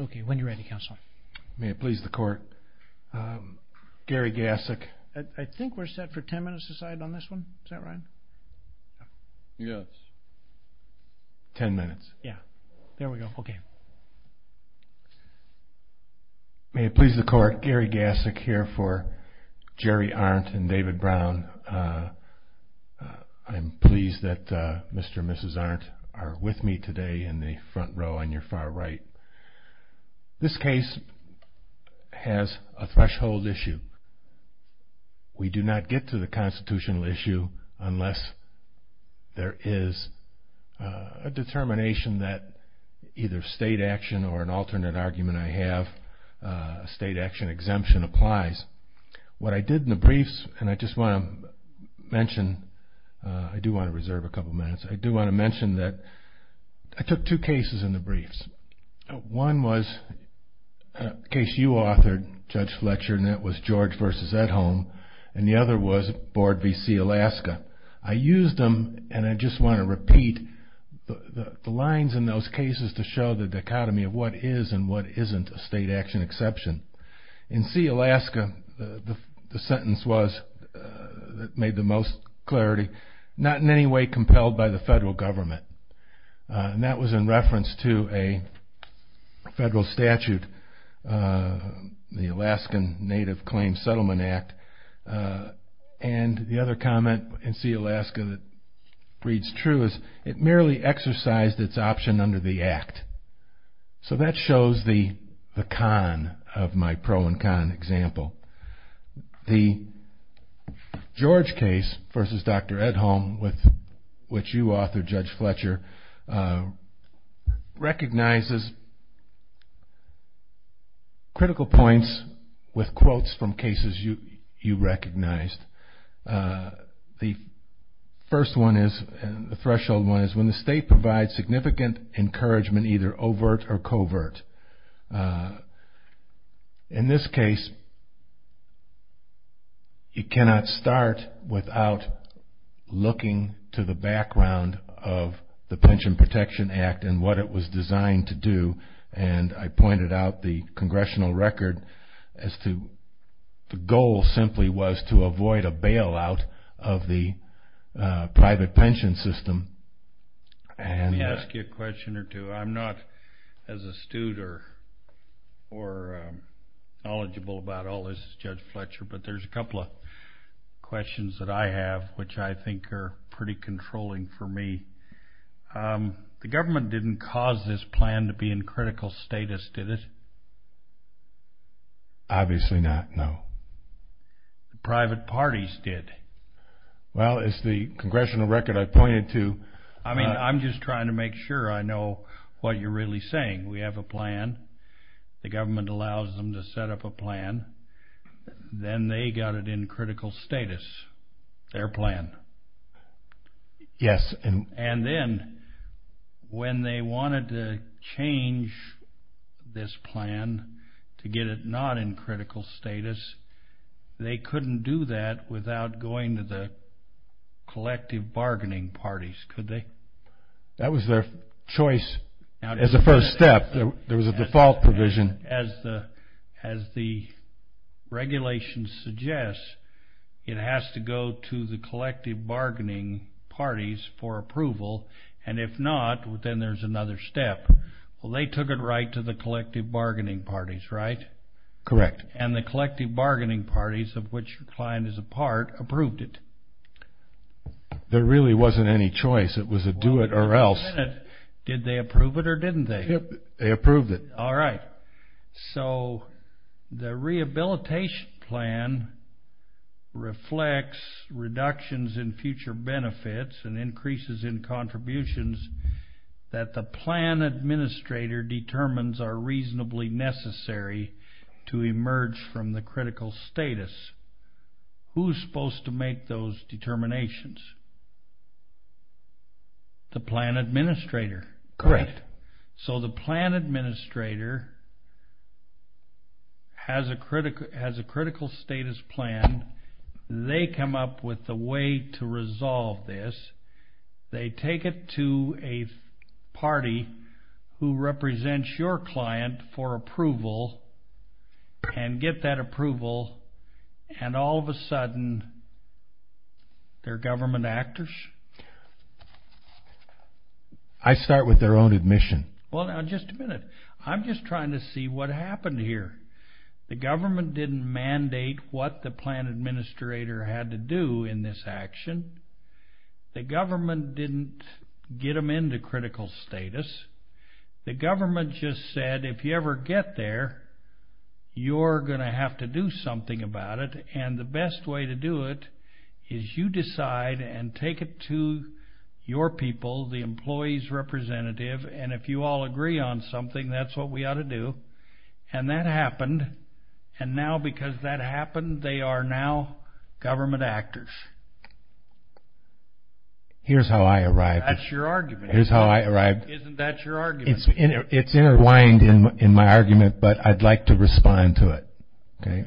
Okay, when you're ready, counsel. May it please the court. Gary Gassick. I think we're set for 10 minutes aside on this one. Is that right? Yes. 10 minutes. Yeah. There we go. Okay. May it please the court. Gary Gassick here for Jerry Arendt and David Brown. I'm pleased that Mr. and Mrs. Arendt are with me today in the front row on your far right. This case has a threshold issue. We do not get to the constitutional issue unless there is a determination that either state action or an alternate argument I have, state action exemption applies. What I did in the briefs, and I just want to mention, I do want to reserve a couple minutes, I do want to mention that I took two cases in the briefs. One was a case you authored, Judge Fletcher, and that was George v. Edholm, and the other was Board v. C. Alaska. I used them, and I just want to repeat the lines in those cases to show the dichotomy of what is and what isn't a state action exception. In C. Alaska, the sentence was, made the most clarity, not in any way compelled by the federal government. That was in reference to a federal statute, the Alaskan Native Claims Settlement Act. The other comment in C. Alaska that reads true is, it merely exercised its option under the act. So that shows the con of my pro and con example. The George case versus Dr. Edholm, which you authored, Judge Fletcher, recognizes critical points with quotes from cases you recognized. The first one is, the threshold one, is when the state provides significant encouragement, either overt or covert. In this case, it cannot start without looking to the background of the Pension Protection Act and what it was designed to do, and I pointed out the congressional record as to the goal simply was to avoid a bailout of the private pension system. Let me ask you a question or two. I'm not as astute or knowledgeable about all this as Judge Fletcher, but there's a couple of questions that I have which I think are pretty controlling for me. The government didn't cause this plan to be in critical status, did it? Obviously not, no. The private parties did. Well, it's the congressional record I pointed to. I mean, I'm just trying to make sure I know what you're really saying. We have a plan. The government allows them to set up a plan. Then they got it in critical status, their plan. Yes. And then when they wanted to change this plan to get it not in critical status, they couldn't do that without going to the collective bargaining parties, could they? That was their choice as a first step. There was a default provision. As the regulations suggest, it has to go to the collective bargaining parties for approval, and if not, then there's another step. Well, they took it right to the collective bargaining parties, right? Correct. And the collective bargaining parties, of which your client is a part, approved it. There really wasn't any choice. It was a do it or else. Did they approve it or didn't they? They approved it. All right. So the rehabilitation plan reflects reductions in future benefits and increases in contributions that the plan administrator determines are reasonably necessary to emerge from the critical status. Who's supposed to make those determinations? The plan administrator. Correct. So the plan administrator has a critical status plan. They come up with a way to resolve this. They take it to a party who represents your client for approval and get that approval, and all of a sudden, they're government actors? I start with their own admission. Well, now, just a minute. I'm just trying to see what happened here. The government didn't mandate what the plan administrator had to do in this action. The government didn't get them into critical status. The government just said, if you ever get there, you're going to have to do something about it. And the best way to do it is you decide and take it to your people, the employee's representative. And if you all agree on something, that's what we ought to do. And that happened. And now, because that happened, they are now government actors. Here's how I arrived. That's your argument. Here's how I arrived. Isn't that your argument? It's intertwined in my argument, but I'd like to respond to it, okay?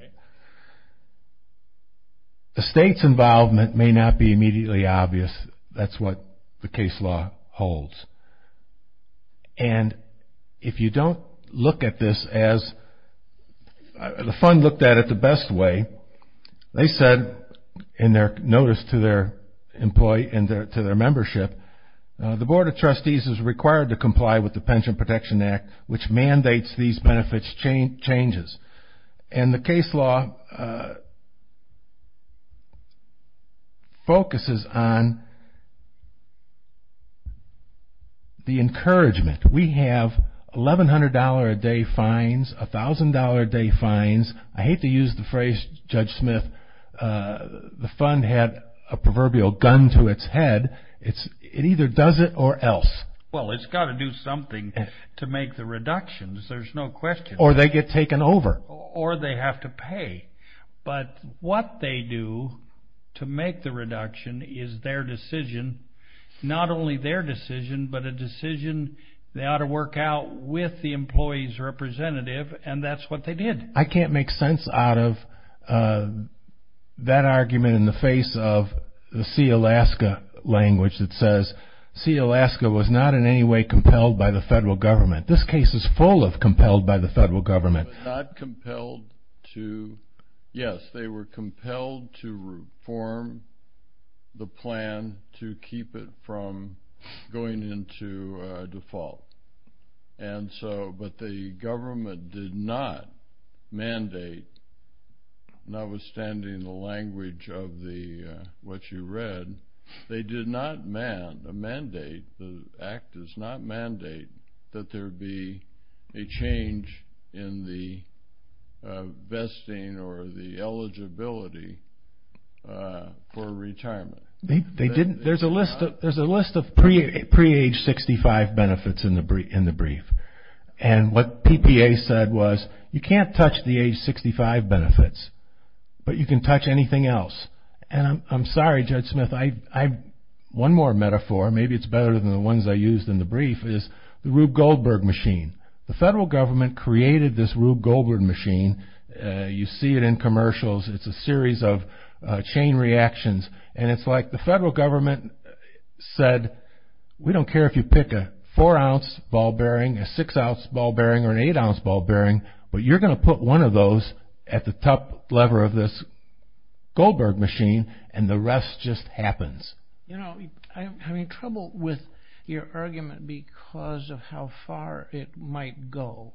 The state's involvement may not be immediately obvious. That's what the case law holds. And if you don't look at this as the fund looked at it the best way, they said in their notice to their employee and to their membership, the Board of Trustees is required to comply with the Pension Protection Act, which mandates these benefits changes. And the case law focuses on the encouragement. We have $1,100-a-day fines, $1,000-a-day fines. I hate to use the phrase, Judge Smith, the fund had a proverbial gun to its head. It either does it or else. Well, it's got to do something to make the reductions. There's no question. Or they get taken over. Or they have to pay. But what they do to make the reduction is their decision, not only their decision, but a decision they ought to work out with the employee's representative, and that's what they did. I can't make sense out of that argument in the face of the see Alaska language that says, see Alaska was not in any way compelled by the federal government. This case is full of compelled by the federal government. Yes, they were compelled to reform the plan to keep it from going into default. But the government did not mandate, notwithstanding the language of what you read, they did not mandate, the act does not mandate that there be a change in the vesting or the eligibility for retirement. There's a list of pre-age 65 benefits in the brief. And what PPA said was, you can't touch the age 65 benefits, but you can touch anything else. And I'm sorry, Judge Smith, one more metaphor, maybe it's better than the ones I used in the brief, is the Rube Goldberg machine. The federal government created this Rube Goldberg machine. You see it in commercials. It's a series of chain reactions. And it's like the federal government said, we don't care if you pick a four-ounce ball bearing, a six-ounce ball bearing, or an eight-ounce ball bearing, but you're going to put one of those at the top lever of this Goldberg machine, and the rest just happens. You know, I'm having trouble with your argument because of how far it might go.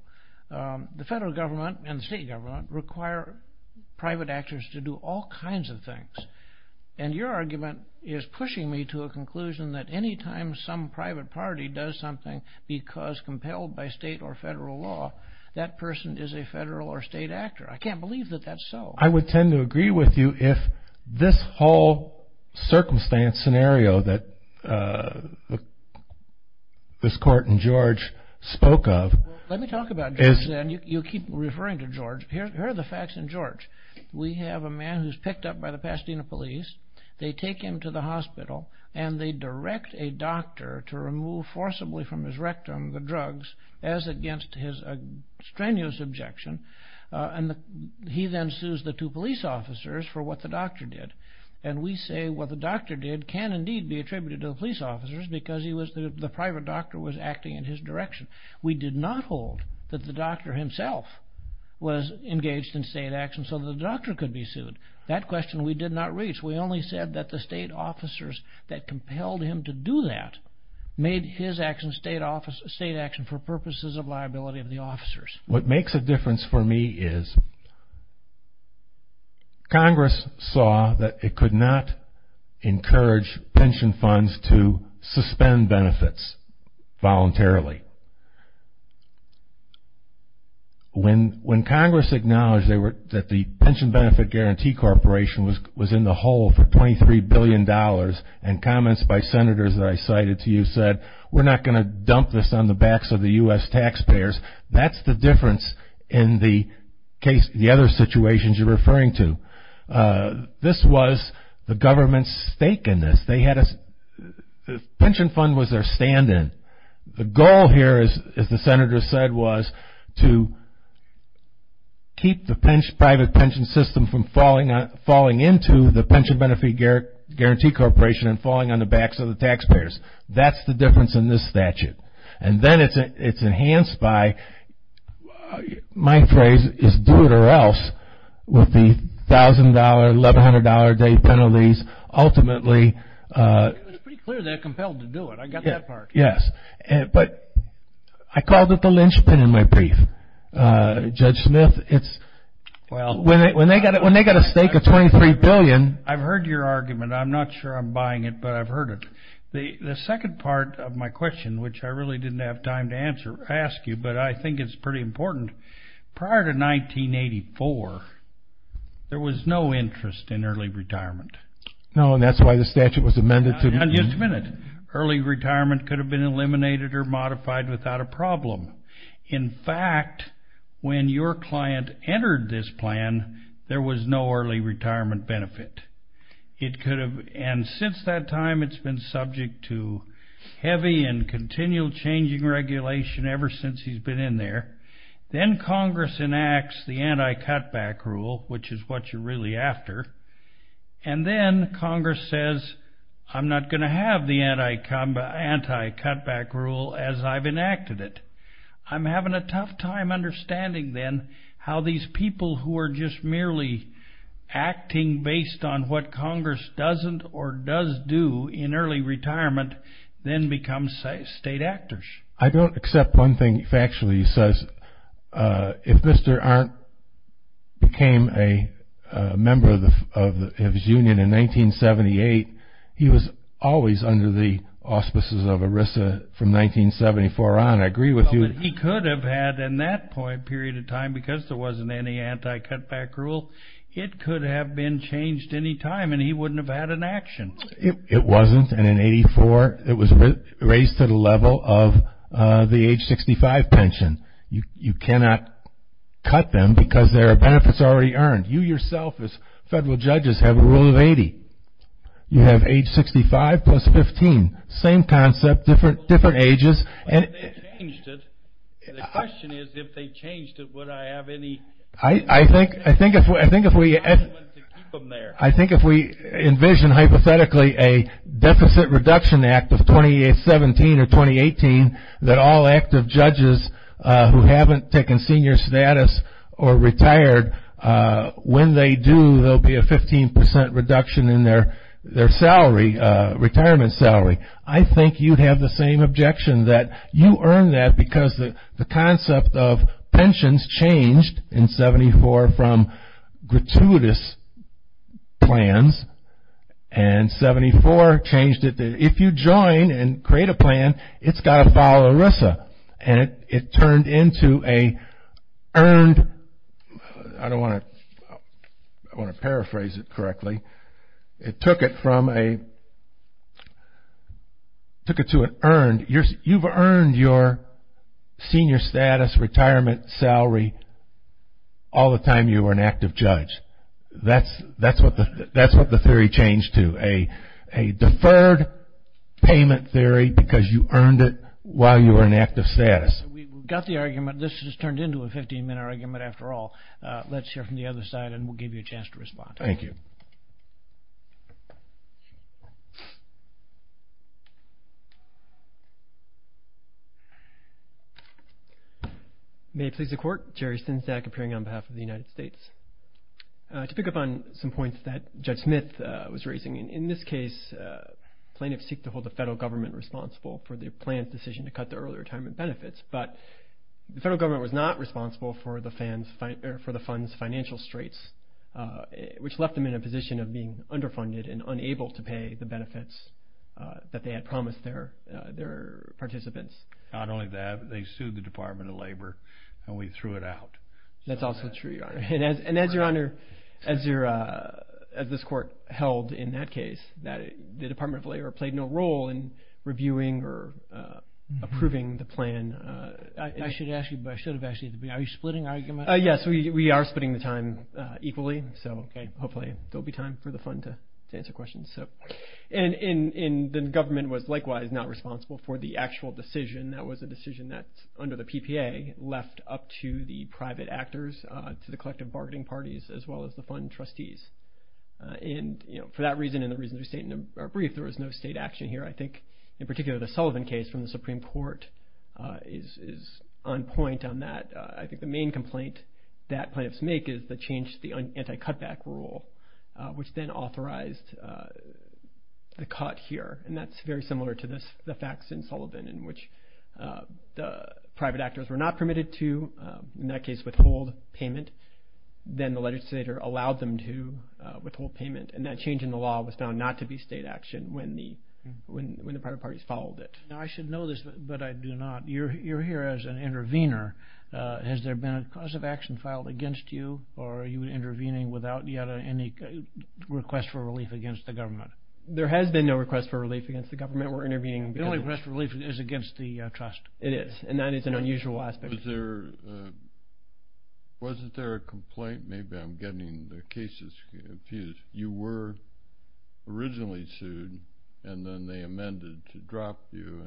The federal government and the state government require private actors to do all kinds of things. And your argument is pushing me to a conclusion that any time some private party does something because compelled by state or federal law, that person is a federal or state actor. I can't believe that that's so. I would tend to agree with you if this whole circumstance, scenario that this court in George spoke of. Let me talk about George, and you keep referring to George. Here are the facts in George. We have a man who's picked up by the Pasadena police. They take him to the hospital, and they direct a doctor to remove forcibly from his rectum the drugs as against his strenuous objection. And he then sues the two police officers for what the doctor did. And we say what the doctor did can indeed be attributed to the police officers because the private doctor was acting in his direction. We did not hold that the doctor himself was engaged in state action so the doctor could be sued. That question we did not reach. We only said that the state officers that compelled him to do that made his action state action for purposes of liability of the officers. What makes a difference for me is Congress saw that it could not encourage pension funds to suspend benefits voluntarily. When Congress acknowledged that the Pension Benefit Guarantee Corporation was in the hole for $23 billion and comments by senators that I cited to you said we're not going to dump this on the backs of the U.S. taxpayers, that's the difference in the other situations you're referring to. This was the government's stake in this. They had a pension fund was their stand-in. The goal here, as the senator said, was to keep the private pension system from falling into the Pension Benefit Guarantee Corporation and falling on the backs of the taxpayers. That's the difference in this statute. And then it's enhanced by my phrase is do it or else with the $1,000, $1,100-a-day penalties, ultimately. It's pretty clear they're compelled to do it. I got that part. Yes. But I called it the linchpin in my brief. Judge Smith, when they got a stake of $23 billion. I've heard your argument. I'm not sure I'm buying it, but I've heard it. The second part of my question, which I really didn't have time to ask you, but I think it's pretty important. Prior to 1984, there was no interest in early retirement. No, and that's why the statute was amended. Just a minute. Early retirement could have been eliminated or modified without a problem. In fact, when your client entered this plan, there was no early retirement benefit. And since that time, it's been subject to heavy and continual changing regulation ever since he's been in there. Then Congress enacts the anti-cutback rule, which is what you're really after. And then Congress says, I'm not going to have the anti-cutback rule as I've enacted it. I'm having a tough time understanding then how these people who are just merely acting based on what Congress doesn't or does do in early retirement then become state actors. I don't accept one thing factually. It says if Mr. Arndt became a member of his union in 1978, he was always under the auspices of ERISA from 1974 on. I agree with you. But he could have had in that period of time, because there wasn't any anti-cutback rule, it could have been changed any time, and he wouldn't have had an action. It wasn't. And in 1984, it was raised to the level of the age 65 pension. You cannot cut them because there are benefits already earned. You yourself as federal judges have a rule of 80. You have age 65 plus 15. Same concept, different ages. But if they changed it, the question is if they changed it, would I have any... I think if we envision hypothetically a deficit reduction act of 2017 or 2018 that all active judges who haven't taken senior status or retired, when they do there will be a 15% reduction in their retirement salary. I think you'd have the same objection that you earn that because the concept of pensions changed in 74 from gratuitous plans, and 74 changed it. If you join and create a plan, it's got to follow ERISA. And it turned into an earned... I don't want to paraphrase it correctly. It took it from a... You've earned your senior status, retirement salary all the time you were an active judge. That's what the theory changed to, a deferred payment theory because you earned it while you were in active status. We've got the argument. This has turned into a 15-minute argument after all. Let's hear from the other side, and we'll give you a chance to respond. Thank you. May it please the Court. Jerry Synzak, appearing on behalf of the United States. To pick up on some points that Judge Smith was raising, in this case plaintiffs seek to hold the federal government responsible for their planned decision to cut their early retirement benefits, but the federal government was not responsible for the funds' financial straits, which left them in a position of being underfunded and unable to pay the benefits that they had promised their participants. Not only that, but they sued the Department of Labor, and we threw it out. That's also true, Your Honor. And as Your Honor, as this Court held in that case, the Department of Labor played no role in reviewing or approving the plan. I should ask you, but I should have asked you. Are you splitting arguments? Yes, we are splitting the time equally. So, okay, hopefully there will be time for the fund to answer questions. And the government was likewise not responsible for the actual decision. That was a decision that, under the PPA, left up to the private actors, to the collective bargaining parties, as well as the fund trustees. And for that reason and the reasons we state in our brief, there was no state action here. I think, in particular, the Sullivan case from the Supreme Court is on point on that. I think the main complaint that plaintiffs make is the change to the anti-cutback rule, which then authorized the cut here. And that's very similar to the facts in Sullivan, in which the private actors were not permitted to, in that case, withhold payment. Then the legislator allowed them to withhold payment. And that change in the law was found not to be state action when the private parties followed it. Now, I should know this, but I do not. You're here as an intervener. Has there been a cause of action filed against you, or are you intervening without yet any request for relief against the government? There has been no request for relief against the government. We're intervening because of this. The only request for relief is against the trust. It is, and that is an unusual aspect. Wasn't there a complaint? Maybe I'm getting the cases confused. You were originally sued, and then they amended to drop you.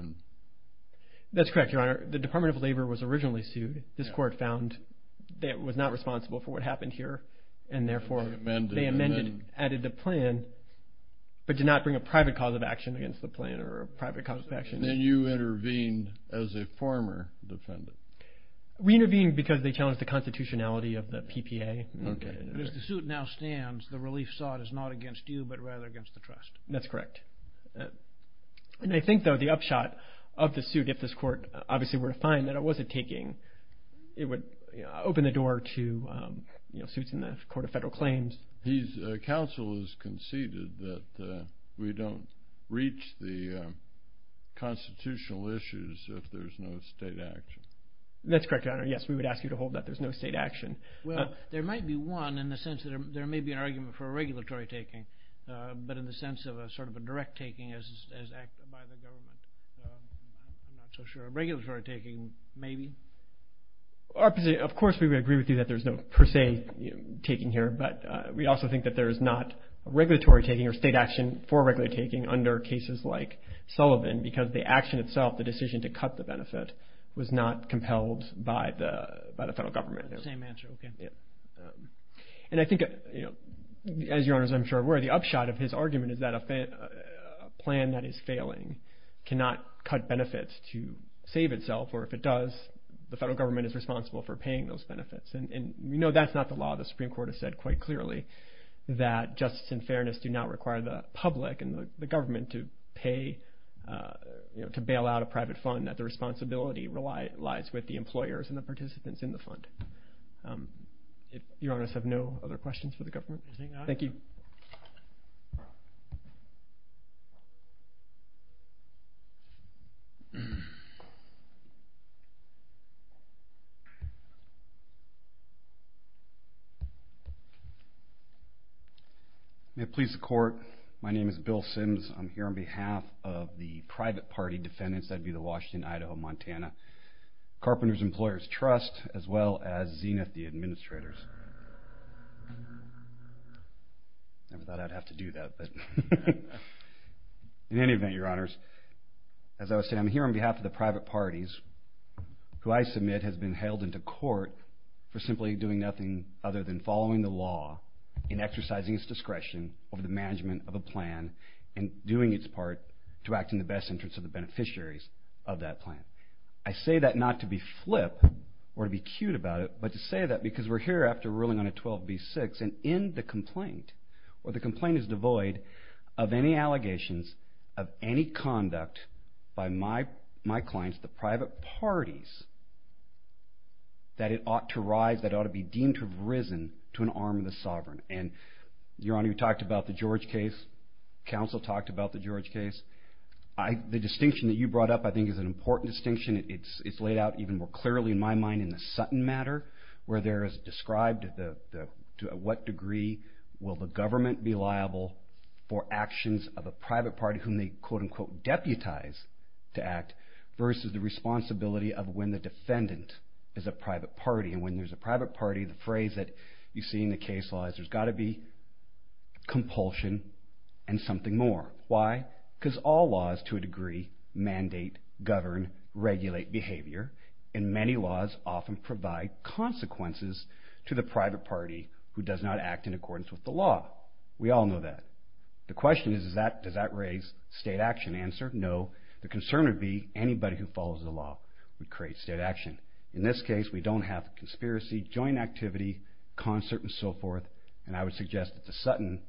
That's correct, Your Honor. The Department of Labor was originally sued. This court found that it was not responsible for what happened here, and therefore they amended and added the plan, but did not bring a private cause of action against the plan or a private cause of action. Then you intervened as a former defendant. We intervened because they challenged the constitutionality of the PPA. Okay. As the suit now stands, the relief sought is not against you, but rather against the trust. That's correct. I think, though, the upshot of the suit, if this court obviously were to find that it wasn't taking, it would open the door to suits in the Court of Federal Claims. Counsel has conceded that we don't reach the constitutional issues if there's no state action. That's correct, Your Honor. Yes, we would ask you to hold that there's no state action. Well, there might be one in the sense that there may be an argument for a regulatory taking, but in the sense of a sort of a direct taking as acted by the government. I'm not so sure. A regulatory taking, maybe? Of course we would agree with you that there's no per se taking here, but we also think that there is not a regulatory taking or state action for a regulatory taking under cases like Sullivan because the action itself, the decision to cut the benefit, was not compelled by the federal government. Same answer, okay. And I think, as Your Honors I'm sure are aware, the upshot of his argument is that a plan that is failing cannot cut benefits to save itself, or if it does, the federal government is responsible for paying those benefits. And we know that's not the law. The Supreme Court has said quite clearly that justice and fairness do not require the public and the government to pay, to bail out a private fund, and that the responsibility lies with the employers and the participants in the fund. Your Honors have no other questions for the government? Thank you. May it please the Court, my name is Bill Sims. I'm here on behalf of the private party defendants, that would be the Washington-Idaho-Montana Carpenters' Employers' Trust, as well as Zenith, the administrators. Never thought I'd have to do that. In any event, Your Honors, as I was saying, I'm here on behalf of the private parties who I submit has been held into court for simply doing nothing other than following the law and exercising its discretion over the management of a plan and doing its part to act in the best interest of the beneficiaries of that plan. I say that not to be flip or to be cute about it, but to say that because we're here after ruling on a 12b-6 and in the complaint, where the complaint is devoid of any allegations of any conduct by my clients, the private parties, that it ought to rise, that it ought to be deemed to have risen to an arm of the sovereign. And Your Honor, you talked about the George case. Counsel talked about the George case. The distinction that you brought up, I think, is an important distinction. It's laid out even more clearly in my mind in the Sutton matter, where there is described to what degree will the government be liable for actions of a private party whom they quote-unquote deputize to act versus the responsibility of when the defendant is a private party. And when there's a private party, the phrase that you see in the case law is, there's got to be compulsion and something more. Why? Because all laws to a degree mandate, govern, regulate behavior. And many laws often provide consequences to the private party who does not act in accordance with the law. We all know that. The question is, does that raise state action? The answer, no. The concern would be anybody who follows the law would create state action. In this case, we don't have conspiracy, joint activity, concert, and so forth. And I would suggest that the Sutton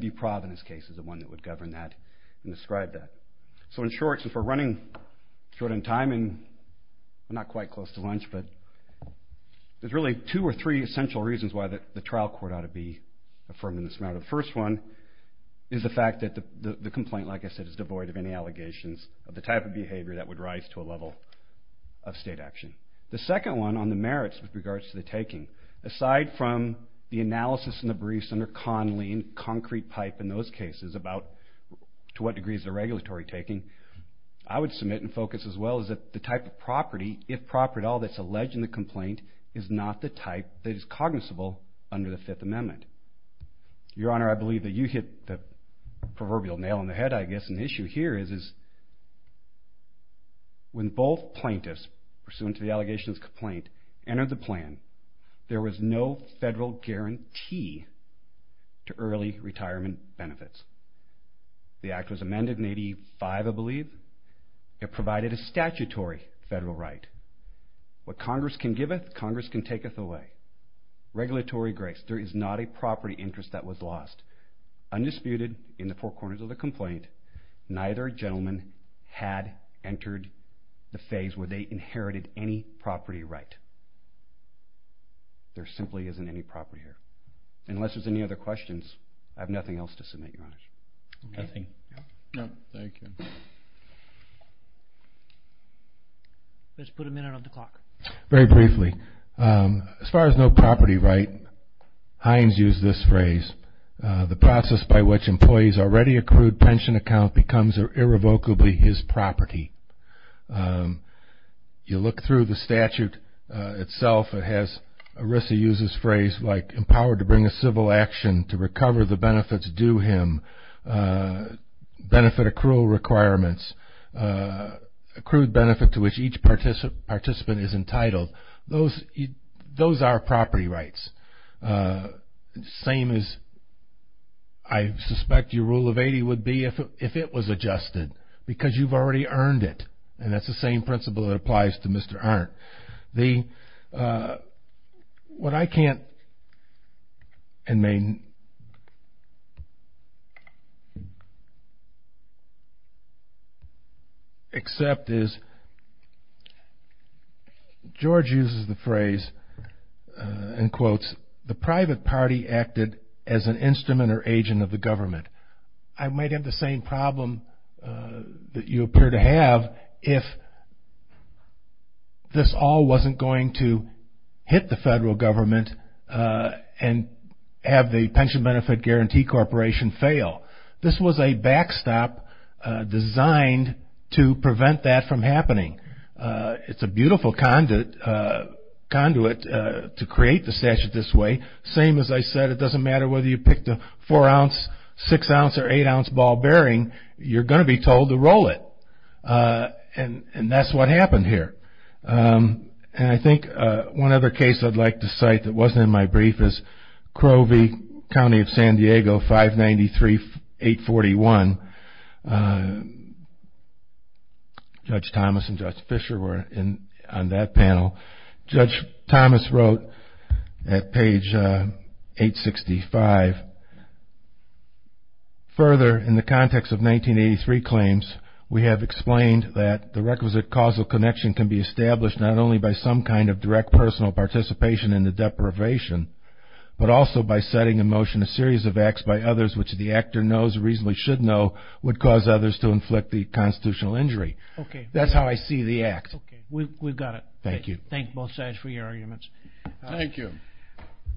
v. Providence case is the one that would govern that and describe that. So in short, since we're running short on time and not quite close to lunch, there's really two or three essential reasons why the trial court ought to be affirmed in this matter. The first one is the fact that the complaint, like I said, is devoid of any allegations of the type of behavior that would rise to a level of state action. The second one on the merits with regards to the taking. Aside from the analysis in the briefs under Conley and concrete pipe in those cases about to what degree is the regulatory taking, I would submit and focus as well is that the type of property, if proper at all, that's alleged in the complaint is not the type that is cognizable under the Fifth Amendment. Your Honor, I believe that you hit the proverbial nail on the head, I guess, and the issue here is when both plaintiffs, pursuant to the allegations of the complaint, entered the plan, there was no federal guarantee to early retirement benefits. The act was amended in 1985, I believe. It provided a statutory federal right. What Congress can giveth, Congress can taketh away. Regulatory grace, there is not a property interest that was lost. Undisputed in the four corners of the complaint, neither gentleman had entered the phase where they inherited any property right. There simply isn't any property here. Unless there's any other questions, I have nothing else to submit, Your Honor. Nothing. No, thank you. Let's put a minute on the clock. Very briefly, as far as no property right, Hines used this phrase, the process by which employees already accrued pension account becomes irrevocably his property. You look through the statute itself, it has, Arisa uses phrase like, empowered to bring a civil action to recover the benefits due him, benefit accrual requirements, accrued benefit to which each participant is entitled. Those are property rights. Same as I suspect your rule of 80 would be if it was adjusted, because you've already earned it. And that's the same principle that applies to Mr. Arndt. The, what I can't and may accept is, George uses the phrase and quotes, the private party acted as an instrument or agent of the government. I might have the same problem that you appear to have if this all wasn't going to hit the federal government and have the pension benefit guarantee corporation fail. This was a backstop designed to prevent that from happening. It's a beautiful conduit to create the statute this way. Same as I said, it doesn't matter whether you picked a four-ounce, six-ounce, or eight-ounce ball bearing, you're going to be told to roll it. And that's what happened here. And I think one other case I'd like to cite that wasn't in my brief is Crovey County of San Diego, 593-841. Judge Thomas and Judge Fisher were on that panel. Judge Thomas wrote at page 865, further, in the context of 1983 claims, we have explained that the requisite causal connection can be established not only by some kind of direct personal participation in the deprivation, but also by setting in motion a series of acts by others which the actor knows or reasonably should know would cause others to inflict the constitutional injury. That's how I see the act. Okay. We've got it. Thank you. Thank both sides for your arguments. Thank you.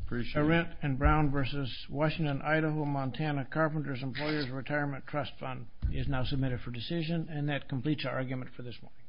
Appreciate it. Arendt and Brown v. Washington, Idaho, Montana, Carpenters Employers Retirement Trust Fund is now submitted for decision. And that completes our argument for this morning.